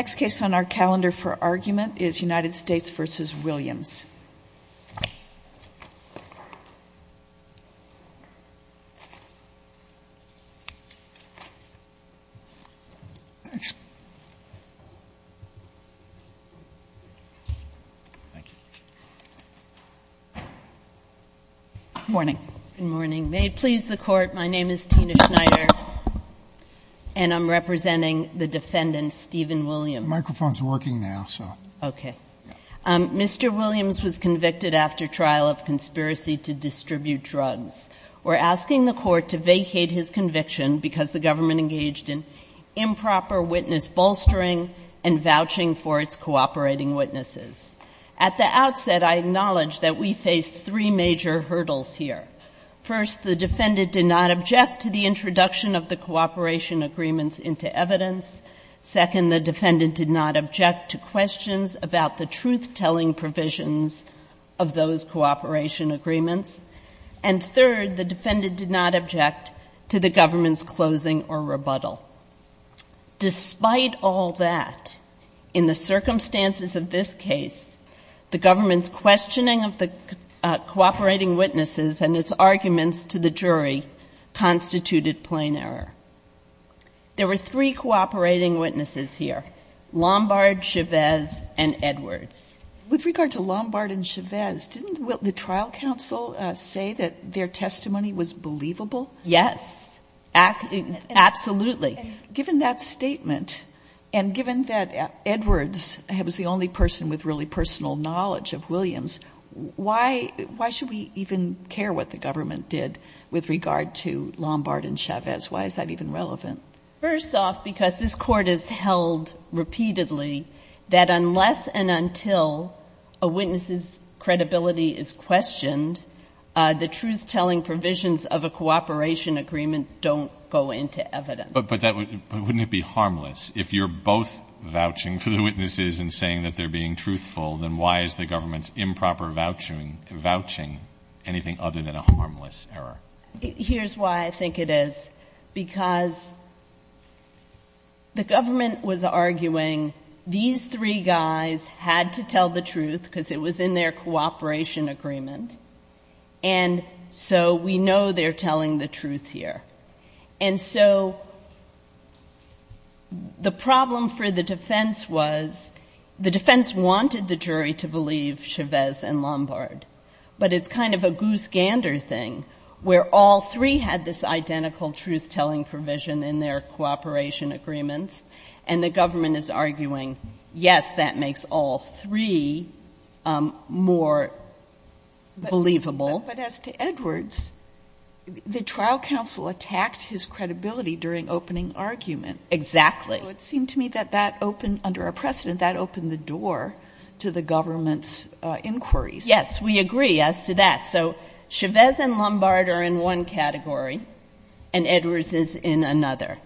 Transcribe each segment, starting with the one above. The next case on our calendar for argument is U.S. v. Williams. Mr. Williams, please. Good morning. May it please the Court, my name is Tina Schneider and I'm representing the defendant, Stephen Williams. The microphone is working now, so. Okay. Mr. Williams was convicted after trial of conspiracy to distribute drugs. We're asking the Court to vacate his conviction because the government engaged in improper witness bolstering and vouching for its cooperating witnesses. At the outset, I acknowledge that we face three major hurdles here. First, the defendant did not object to the introduction of the cooperation agreements into evidence. Second, the defendant did not object to questions about the truth-telling provisions of those cooperation agreements. And third, the defendant did not object to the government's closing or rebuttal. Despite all that, in the circumstances of this case, the government's questioning of the cooperating witnesses and its arguments to the jury constituted plain error. There were three cooperating witnesses here, Lombard, Chavez, and Edwards. With regard to Lombard and Chavez, didn't the trial counsel say that their testimony was believable? Yes, absolutely. Given that statement, and given that Edwards was the only person with really personal knowledge of Williams, why should we even care what the government did with regard to Lombard and Chavez? Why is that even relevant? First off, because this Court has held repeatedly that unless and until a witness's credibility is questioned, the truth-telling provisions of a cooperation agreement don't go into evidence. But wouldn't it be harmless if you're both vouching for the witnesses and saying that they're being truthful, then why is the government's improper vouching anything other than a harmless error? Here's why I think it is. Because the government was arguing these three guys had to tell the truth because it was in their cooperation agreement. And so we know they're telling the truth here. And so the problem for the defense was the defense wanted the jury to believe Chavez and Lombard. But it's kind of a goose-gander thing where all three had this identical truth-telling provision in their cooperation agreements, and the government is arguing, yes, that makes all three more believable. But as to Edwards, the trial counsel attacked his credibility during opening argument. Exactly. So it seemed to me that that opened, under our precedent, that opened the door to the government's inquiries. Yes, we agree as to that. So Chavez and Lombard are in one category, and Edwards is in another.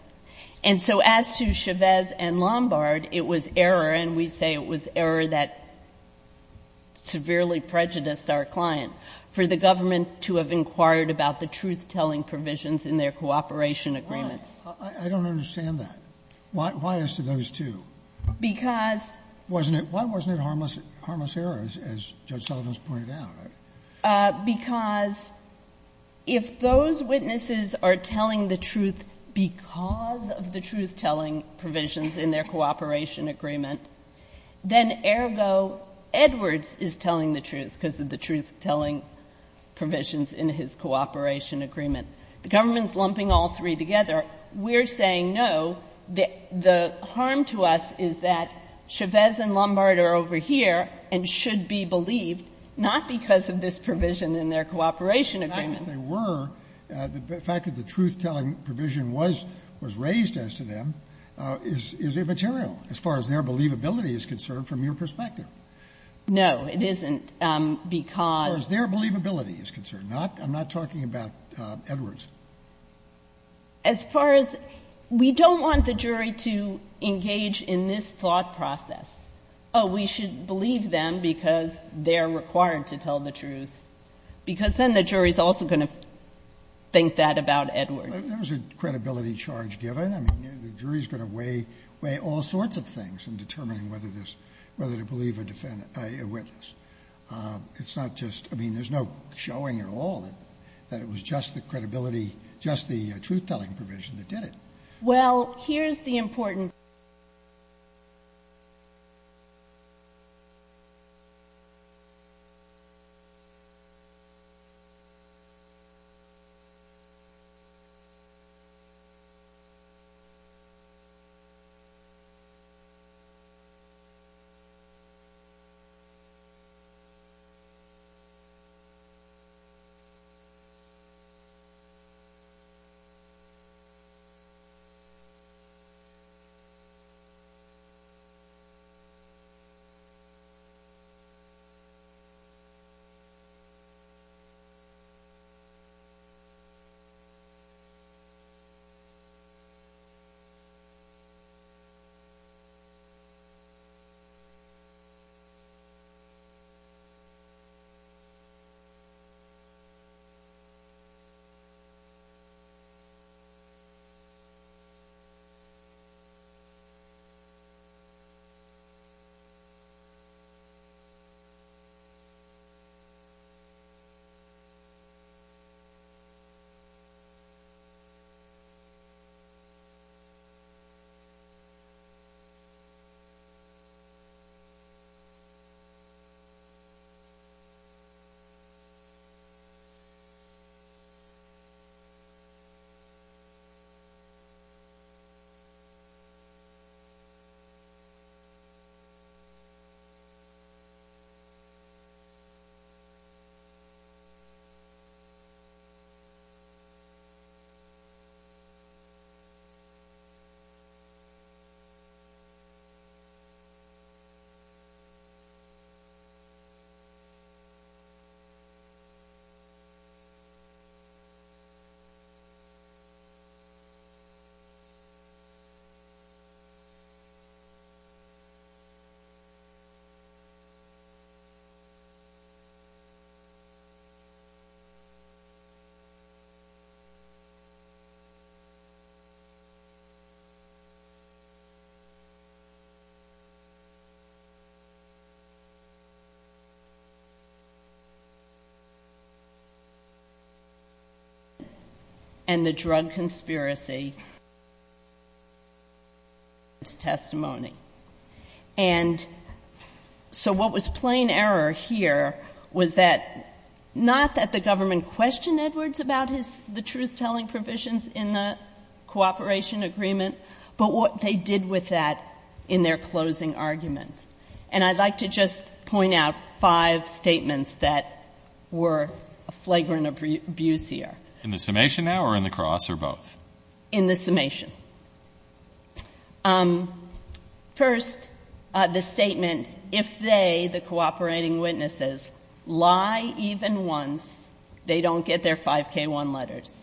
And so as to Chavez and Lombard, it was error, and we say it was error that severely prejudiced our client, for the government to have inquired about the truth-telling provisions in their cooperation agreements. I don't understand that. Why as to those two? Because. Why wasn't it harmless error, as Judge Sullivan's pointed out? Because if those witnesses are telling the truth because of the truth-telling provisions in their cooperation agreement, then, ergo, Edwards is telling the truth because of the truth-telling provisions in his cooperation agreement. The government's lumping all three together. We're saying, no, the harm to us is that Chavez and Lombard are over here and should be believed, not because of this provision in their cooperation agreement. They were. The fact that the truth-telling provision was raised as to them is immaterial as far as their believability is concerned from your perspective. No, it isn't, because. As far as their believability is concerned. I'm not talking about Edwards. As far as we don't want the jury to engage in this thought process. Oh, we should believe them because they're required to tell the truth. Because then the jury's also going to think that about Edwards. There's a credibility charge given. I mean, the jury's going to weigh all sorts of things in determining whether to believe a witness. It's not just. I mean, there's no showing at all that it was just the credibility, just the truth-telling provision that did it. Well, here's the important thing. And the drug conspiracy. It's testimony. And so what was plain error here was that not that the government questioned Edwards about the truth-telling provisions in the cooperation agreement, but what they did with that in their closing argument. And I'd like to just point out five statements that were a flagrant abuse here. In the summation now or in the cross or both? In the summation. First, the statement, if they, the cooperating witnesses, lie even once, they don't get their 5K1 letters.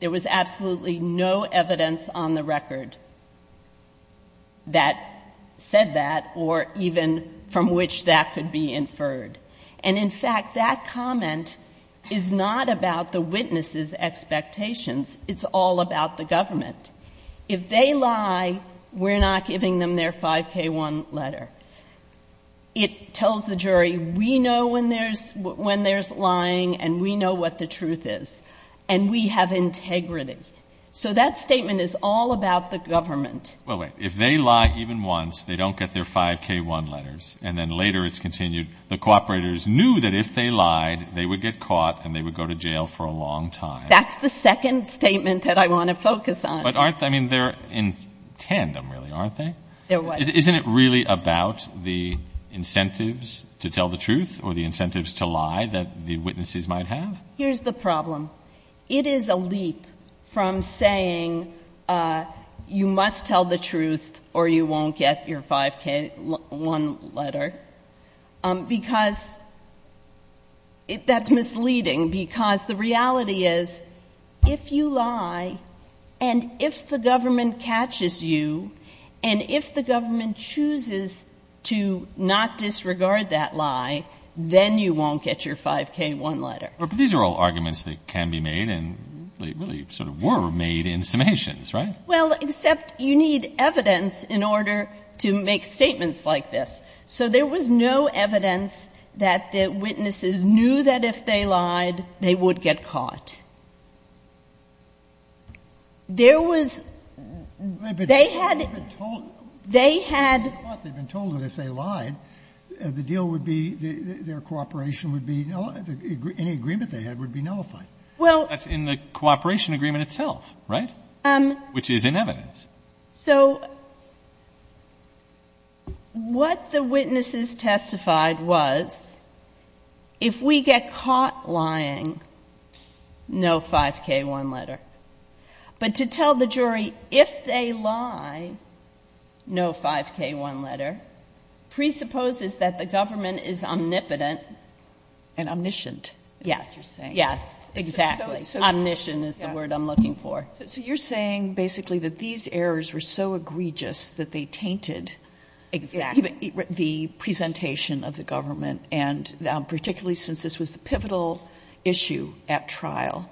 There was absolutely no evidence on the record that said that or even from which that could be inferred. And, in fact, that comment is not about the witnesses' expectations. It's all about the government. If they lie, we're not giving them their 5K1 letter. It tells the jury we know when there's lying and we know what the truth is. And we have integrity. So that statement is all about the government. Well, wait. If they lie even once, they don't get their 5K1 letters. And then later it's continued, the cooperators knew that if they lied, they would get caught and they would go to jail for a long time. That's the second statement that I want to focus on. But aren't they? I mean, they're in tandem, really, aren't they? They're what? Isn't it really about the incentives to tell the truth or the incentives to lie that the witnesses might have? Here's the problem. It is a leap from saying you must tell the truth or you won't get your 5K1 letter because that's misleading, because the reality is if you lie and if the government catches you and if the government chooses to not disregard that lie, then you won't get your 5K1 letter. But these are all arguments that can be made and they really sort of were made in summations, right? Well, except you need evidence in order to make statements like this. So there was no evidence that the witnesses knew that if they lied, they would get caught. There was they had. They had been told that if they lied, the deal would be their cooperation would be nullified. Any agreement they had would be nullified. Well, that's in the cooperation agreement itself, right? Which is in evidence. So what the witnesses testified was if we get caught lying, no 5K1 letter. But to tell the jury if they lie, no 5K1 letter presupposes that the government is omnipotent. And omniscient. Yes. Yes, exactly. Omniscient is the word I'm looking for. So you're saying basically that these errors were so egregious that they tainted the presentation of the government and particularly since this was the pivotal issue at trial,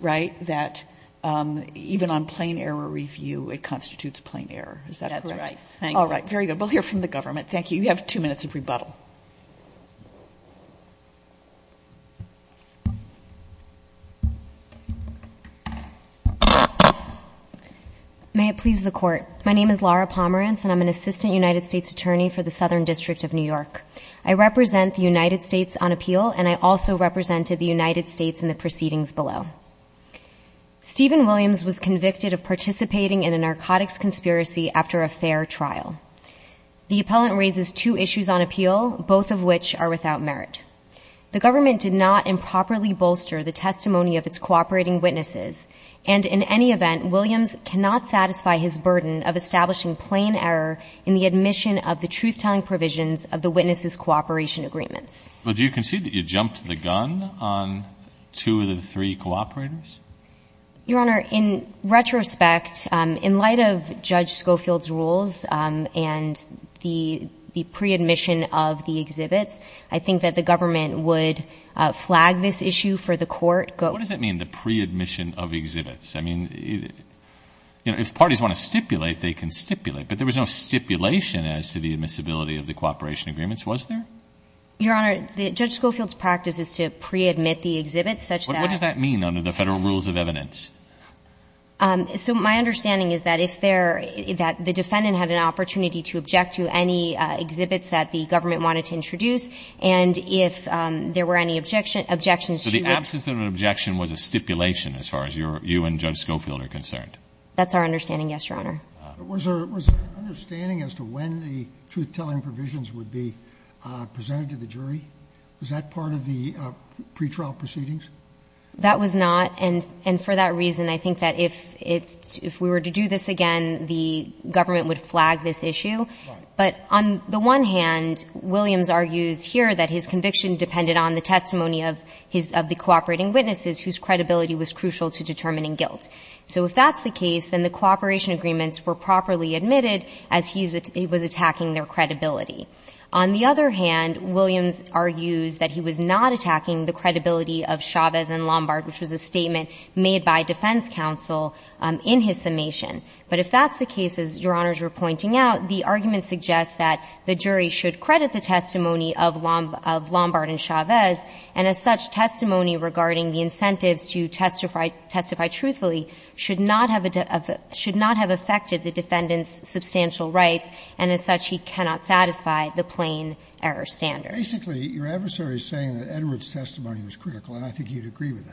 right, that even on plain error review, it constitutes plain error. Is that correct? That's right. All right. Very good. We'll hear from the government. Thank you. You have two minutes of rebuttal. May it please the court. My name is Laura Pomerance and I'm an assistant United States attorney for the Southern District of New York. I represent the United States on appeal and I also represented the United States in the proceedings below. Stephen Williams was convicted of participating in a narcotics conspiracy after a fair trial. The appellant raises two issues on appeal, both of which are without merit. The government did not improperly bolster the testimony of its cooperating witnesses and in any event, Williams cannot satisfy his burden of establishing plain error in the admission of the truth-telling provisions of the witnesses' cooperation agreements. But do you concede that you jumped the gun on two of the three cooperators? Your Honor, in retrospect, in light of Judge Schofield's rules and the pre-admission of the exhibits, I think that the government would flag this issue for the court. What does that mean, the pre-admission of exhibits? I mean, if parties want to stipulate, they can stipulate, but there was no stipulation as to the admissibility of the cooperation agreements, was there? Your Honor, Judge Schofield's practice is to pre-admit the exhibits such that What does that mean under the Federal Rules of Evidence? So my understanding is that if there, that the defendant had an opportunity to object to any exhibits that the government wanted to introduce and if there were any objections to the So the absence of an objection was a stipulation as far as you and Judge Schofield are concerned? That's our understanding, yes, Your Honor. Was there an understanding as to when the truth-telling provisions would be presented to the jury? Was that part of the pretrial proceedings? That was not. And for that reason, I think that if it's, if we were to do this again, the government would flag this issue. Right. But on the one hand, Williams argues here that his conviction depended on the testimony of his, of the cooperating witnesses whose credibility was crucial to determining guilt. So if that's the case, then the cooperation agreements were properly admitted as he was attacking their credibility. On the other hand, Williams argues that he was not attacking the credibility of Chavez and Lombard, which was a statement made by defense counsel in his summation. But if that's the case, as Your Honors were pointing out, the argument suggests that the jury should credit the testimony of Lombard and Chavez, and as such, testimony regarding the incentives to testify truthfully should not have affected the defendant's substantial rights, and as such, he cannot satisfy the plain error standard. Basically, your adversary is saying that Edwards' testimony was critical, and I think you'd agree with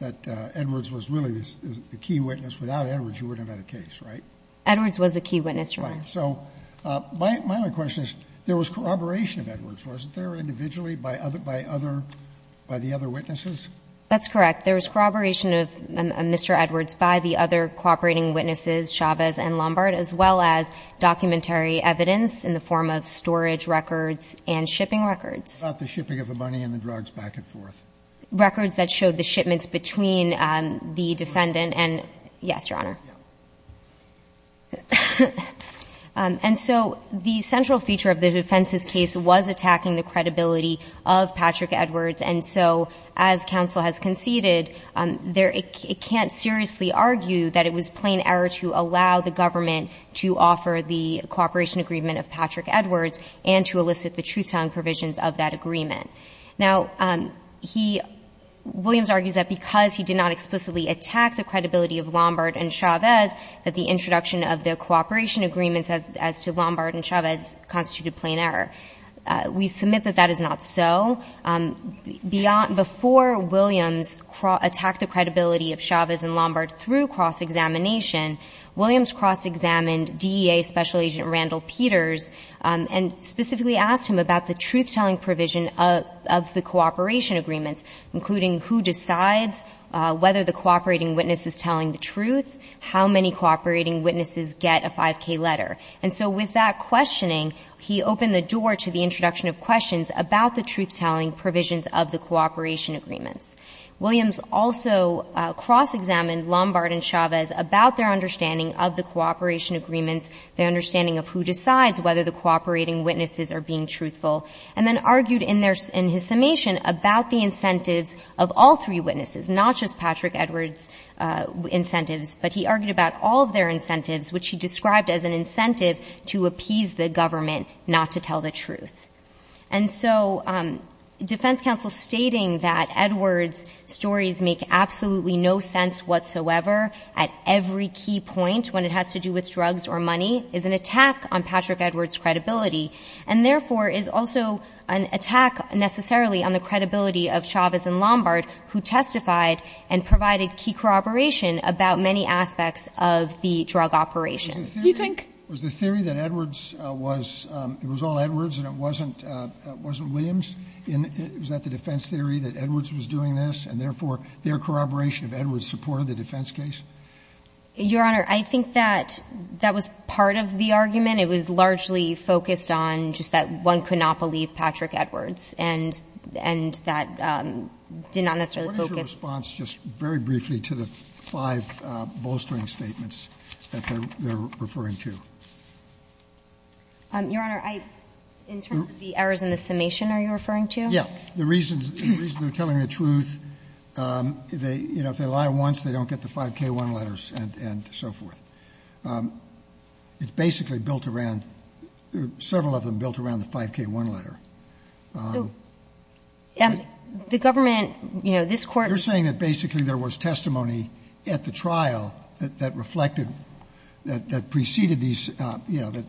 that, that Edwards was really the key witness. Without Edwards, you wouldn't have had a case, right? Edwards was the key witness, Your Honor. Right. So my only question is, there was corroboration of Edwards, wasn't there, individually, by other, by the other witnesses? That's correct. There was corroboration of Mr. Edwards by the other cooperating witnesses, Chavez and Lombard, as well as documentary evidence in the form of storage records and shipping records. About the shipping of the money and the drugs back and forth. Records that showed the shipments between the defendant and yes, Your Honor. Yes. And so the central feature of the defense's case was attacking the credibility of Patrick Edwards, and so as counsel has conceded, it can't seriously argue that it was plain error to allow the government to offer the cooperation agreement of Patrick Edwards and to elicit the truth-telling provisions of that agreement. Now, he — Williams argues that because he did not explicitly attack the credibility of Lombard and Chavez, that the introduction of the cooperation agreements as to Lombard and Chavez constituted plain error. We submit that that is not so. Before Williams attacked the credibility of Chavez and Lombard through cross-examination, Williams cross-examined DEA Special Agent Randall Peters and specifically asked him about the truth-telling provision of the cooperation agreements, including who decides whether the cooperating witness is telling the truth, how many cooperating witnesses get a 5K letter. And so with that questioning, he opened the door to the introduction of questions about the truth-telling provisions of the cooperation agreements. Williams also cross-examined Lombard and Chavez about their understanding of the cooperation agreements, their understanding of who decides whether the cooperating witnesses are being truthful, and then argued in their — in his summation about the incentives of all three witnesses, not just Patrick Edwards' incentives, but he argued about all of their incentives, which he described as an incentive to appease the government not to tell the truth. And so defense counsel stating that Edwards' stories make absolutely no sense whatsoever at every key point when it has to do with drugs or money is an attack on Patrick Edwards' credibility, and therefore is also an attack necessarily on the credibility of Chavez and Lombard, who testified and provided key corroboration about many aspects of the drug operations. Do you think — Was the theory that Edwards was — it was all Edwards and it wasn't Williams? Was that the defense theory, that Edwards was doing this, and therefore their corroboration of Edwards supported the defense case? Your Honor, I think that that was part of the argument. It was largely focused on just that one could not believe Patrick Edwards, and that did not necessarily focus — What is your response, just very briefly, to the five bolstering statements that they're referring to? Your Honor, I — in terms of the errors in the summation, are you referring to? Yes. The reason they're telling the truth, they — you know, if they lie once, they don't get the 5K1 letters and so forth. It's basically built around — several of them built around the 5K1 letter. The government, you know, this Court — You're saying that basically there was testimony at the trial that reflected — that preceded these — you know, that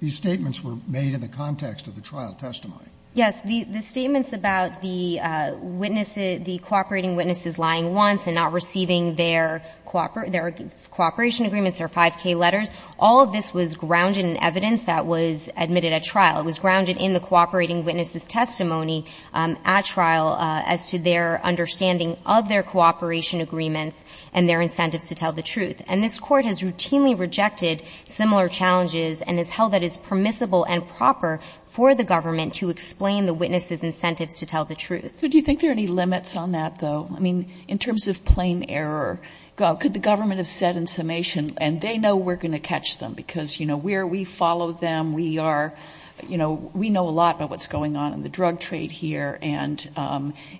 these statements were made in the context of the trial testimony. Yes. The statements about the witnesses — the cooperating witnesses lying once and not receiving their cooperation agreements, their 5K letters, all of this was grounded in evidence that was admitted at trial. It was grounded in the cooperating witnesses' testimony at trial as to their understanding of their cooperation agreements and their incentives to tell the truth. And this Court has routinely rejected similar challenges and has held that it's permissible and proper for the government to explain the witnesses' incentives to tell the truth. So do you think there are any limits on that, though? I mean, in terms of plain error, could the government have said in summation — and they know we're going to catch them because, you know, we're — we follow them, we are — you know, we know a lot about what's going on in the drug trade here, and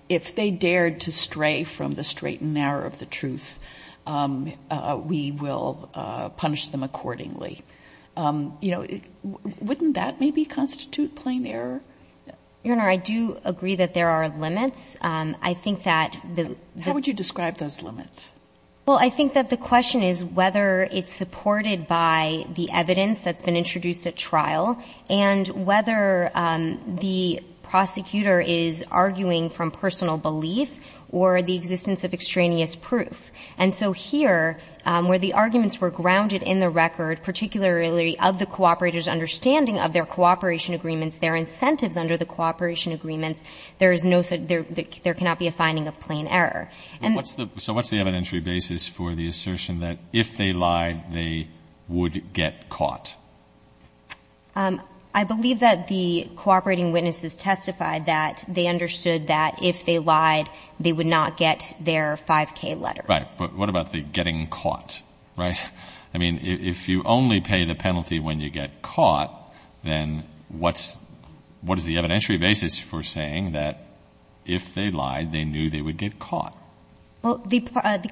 if they dared to stray from the straight and narrow of the truth, we will punish them accordingly. You know, wouldn't that maybe constitute plain error? Your Honor, I do agree that there are limits. I think that the — How would you describe those limits? Well, I think that the question is whether it's supported by the evidence that's whether the prosecutor is arguing from personal belief or the existence of extraneous proof. And so here, where the arguments were grounded in the record, particularly of the cooperators' understanding of their cooperation agreements, their incentives under the cooperation agreements, there is no — there cannot be a finding of plain error. And — So what's the evidentiary basis for the assertion that if they lied, they would get caught? I believe that the cooperating witnesses testified that they understood that if they lied, they would not get their 5K letters. Right. But what about the getting caught, right? I mean, if you only pay the penalty when you get caught, then what's — what is the evidentiary basis for saying that if they lied, they knew they would get caught? Well, the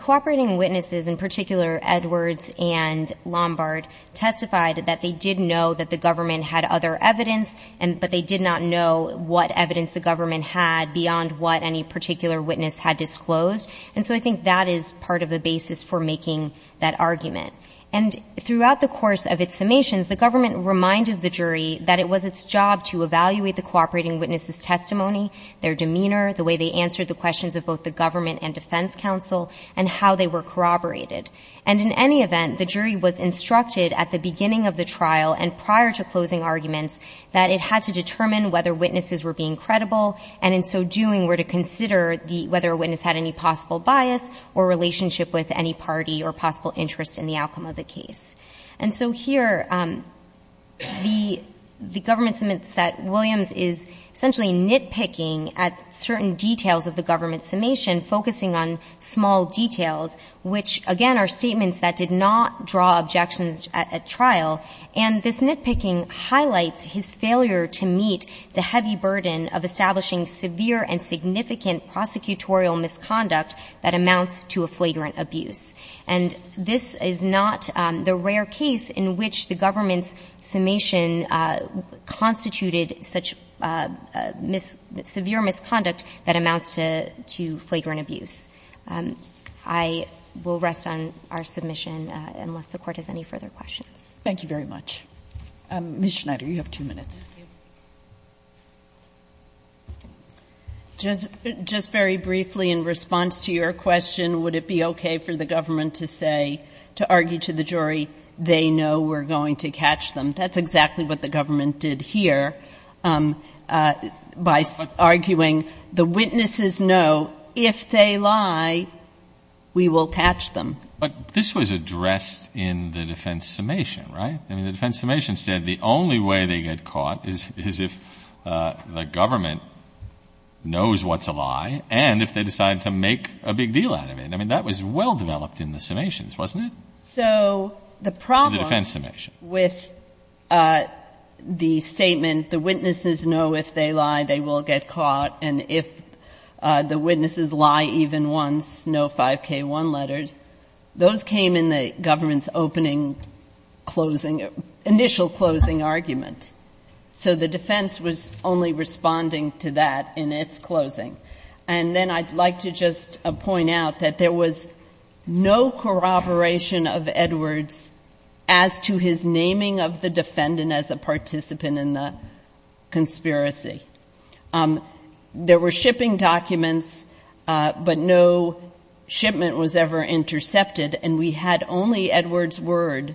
cooperating witnesses, in particular Edwards and Lombard, testified that they did know that the government had other evidence, but they did not know what evidence the government had beyond what any particular witness had disclosed. And so I think that is part of the basis for making that argument. And throughout the course of its summations, the government reminded the jury that it was its job to evaluate the cooperating witnesses' testimony, their demeanor, the way they answered the questions of both the government and defense counsel, and how they were corroborated. And in any event, the jury was instructed at the beginning of the trial and prior to closing arguments that it had to determine whether witnesses were being credible, and in so doing, were to consider the — whether a witness had any possible bias or relationship with any party or possible interest in the outcome of the case. And so here, the government summits that Williams is essentially nitpicking at certain details of the government summation, focusing on small details, which again are statements that did not draw objections at trial. And this nitpicking highlights his failure to meet the heavy burden of establishing severe and significant prosecutorial misconduct that amounts to a flagrant abuse. And this is not the rare case in which the government's summation constituted such severe misconduct that amounts to flagrant abuse. I will rest on our submission unless the Court has any further questions. Thank you very much. Ms. Schneider, you have two minutes. Thank you. Just very briefly, in response to your question, would it be okay for the government to say, to argue to the jury, they know we're going to catch them? That's exactly what the government did here by arguing the witnesses know if they lie, we will catch them. But this was addressed in the defense summation, right? I mean, the defense summation said the only way they get caught is if the government knows what's a lie and if they decide to make a big deal out of it. I mean, that was well developed in the summations, wasn't it? So the problem with the statement, the witnesses know if they lie, they will get caught, and if the witnesses lie even once, no 5K1 letters. Those came in the government's opening closing, initial closing argument. So the defense was only responding to that in its closing. And then I'd like to just point out that there was no corroboration of Edwards as to his naming of the defendant as a participant in the conspiracy. There were shipping documents, but no shipment was ever intercepted. And we had only Edwards' word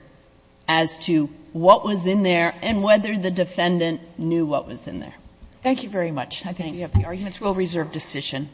as to what was in there and whether the defendant knew what was in there. Thank you very much. I thank you. The arguments will reserve decision.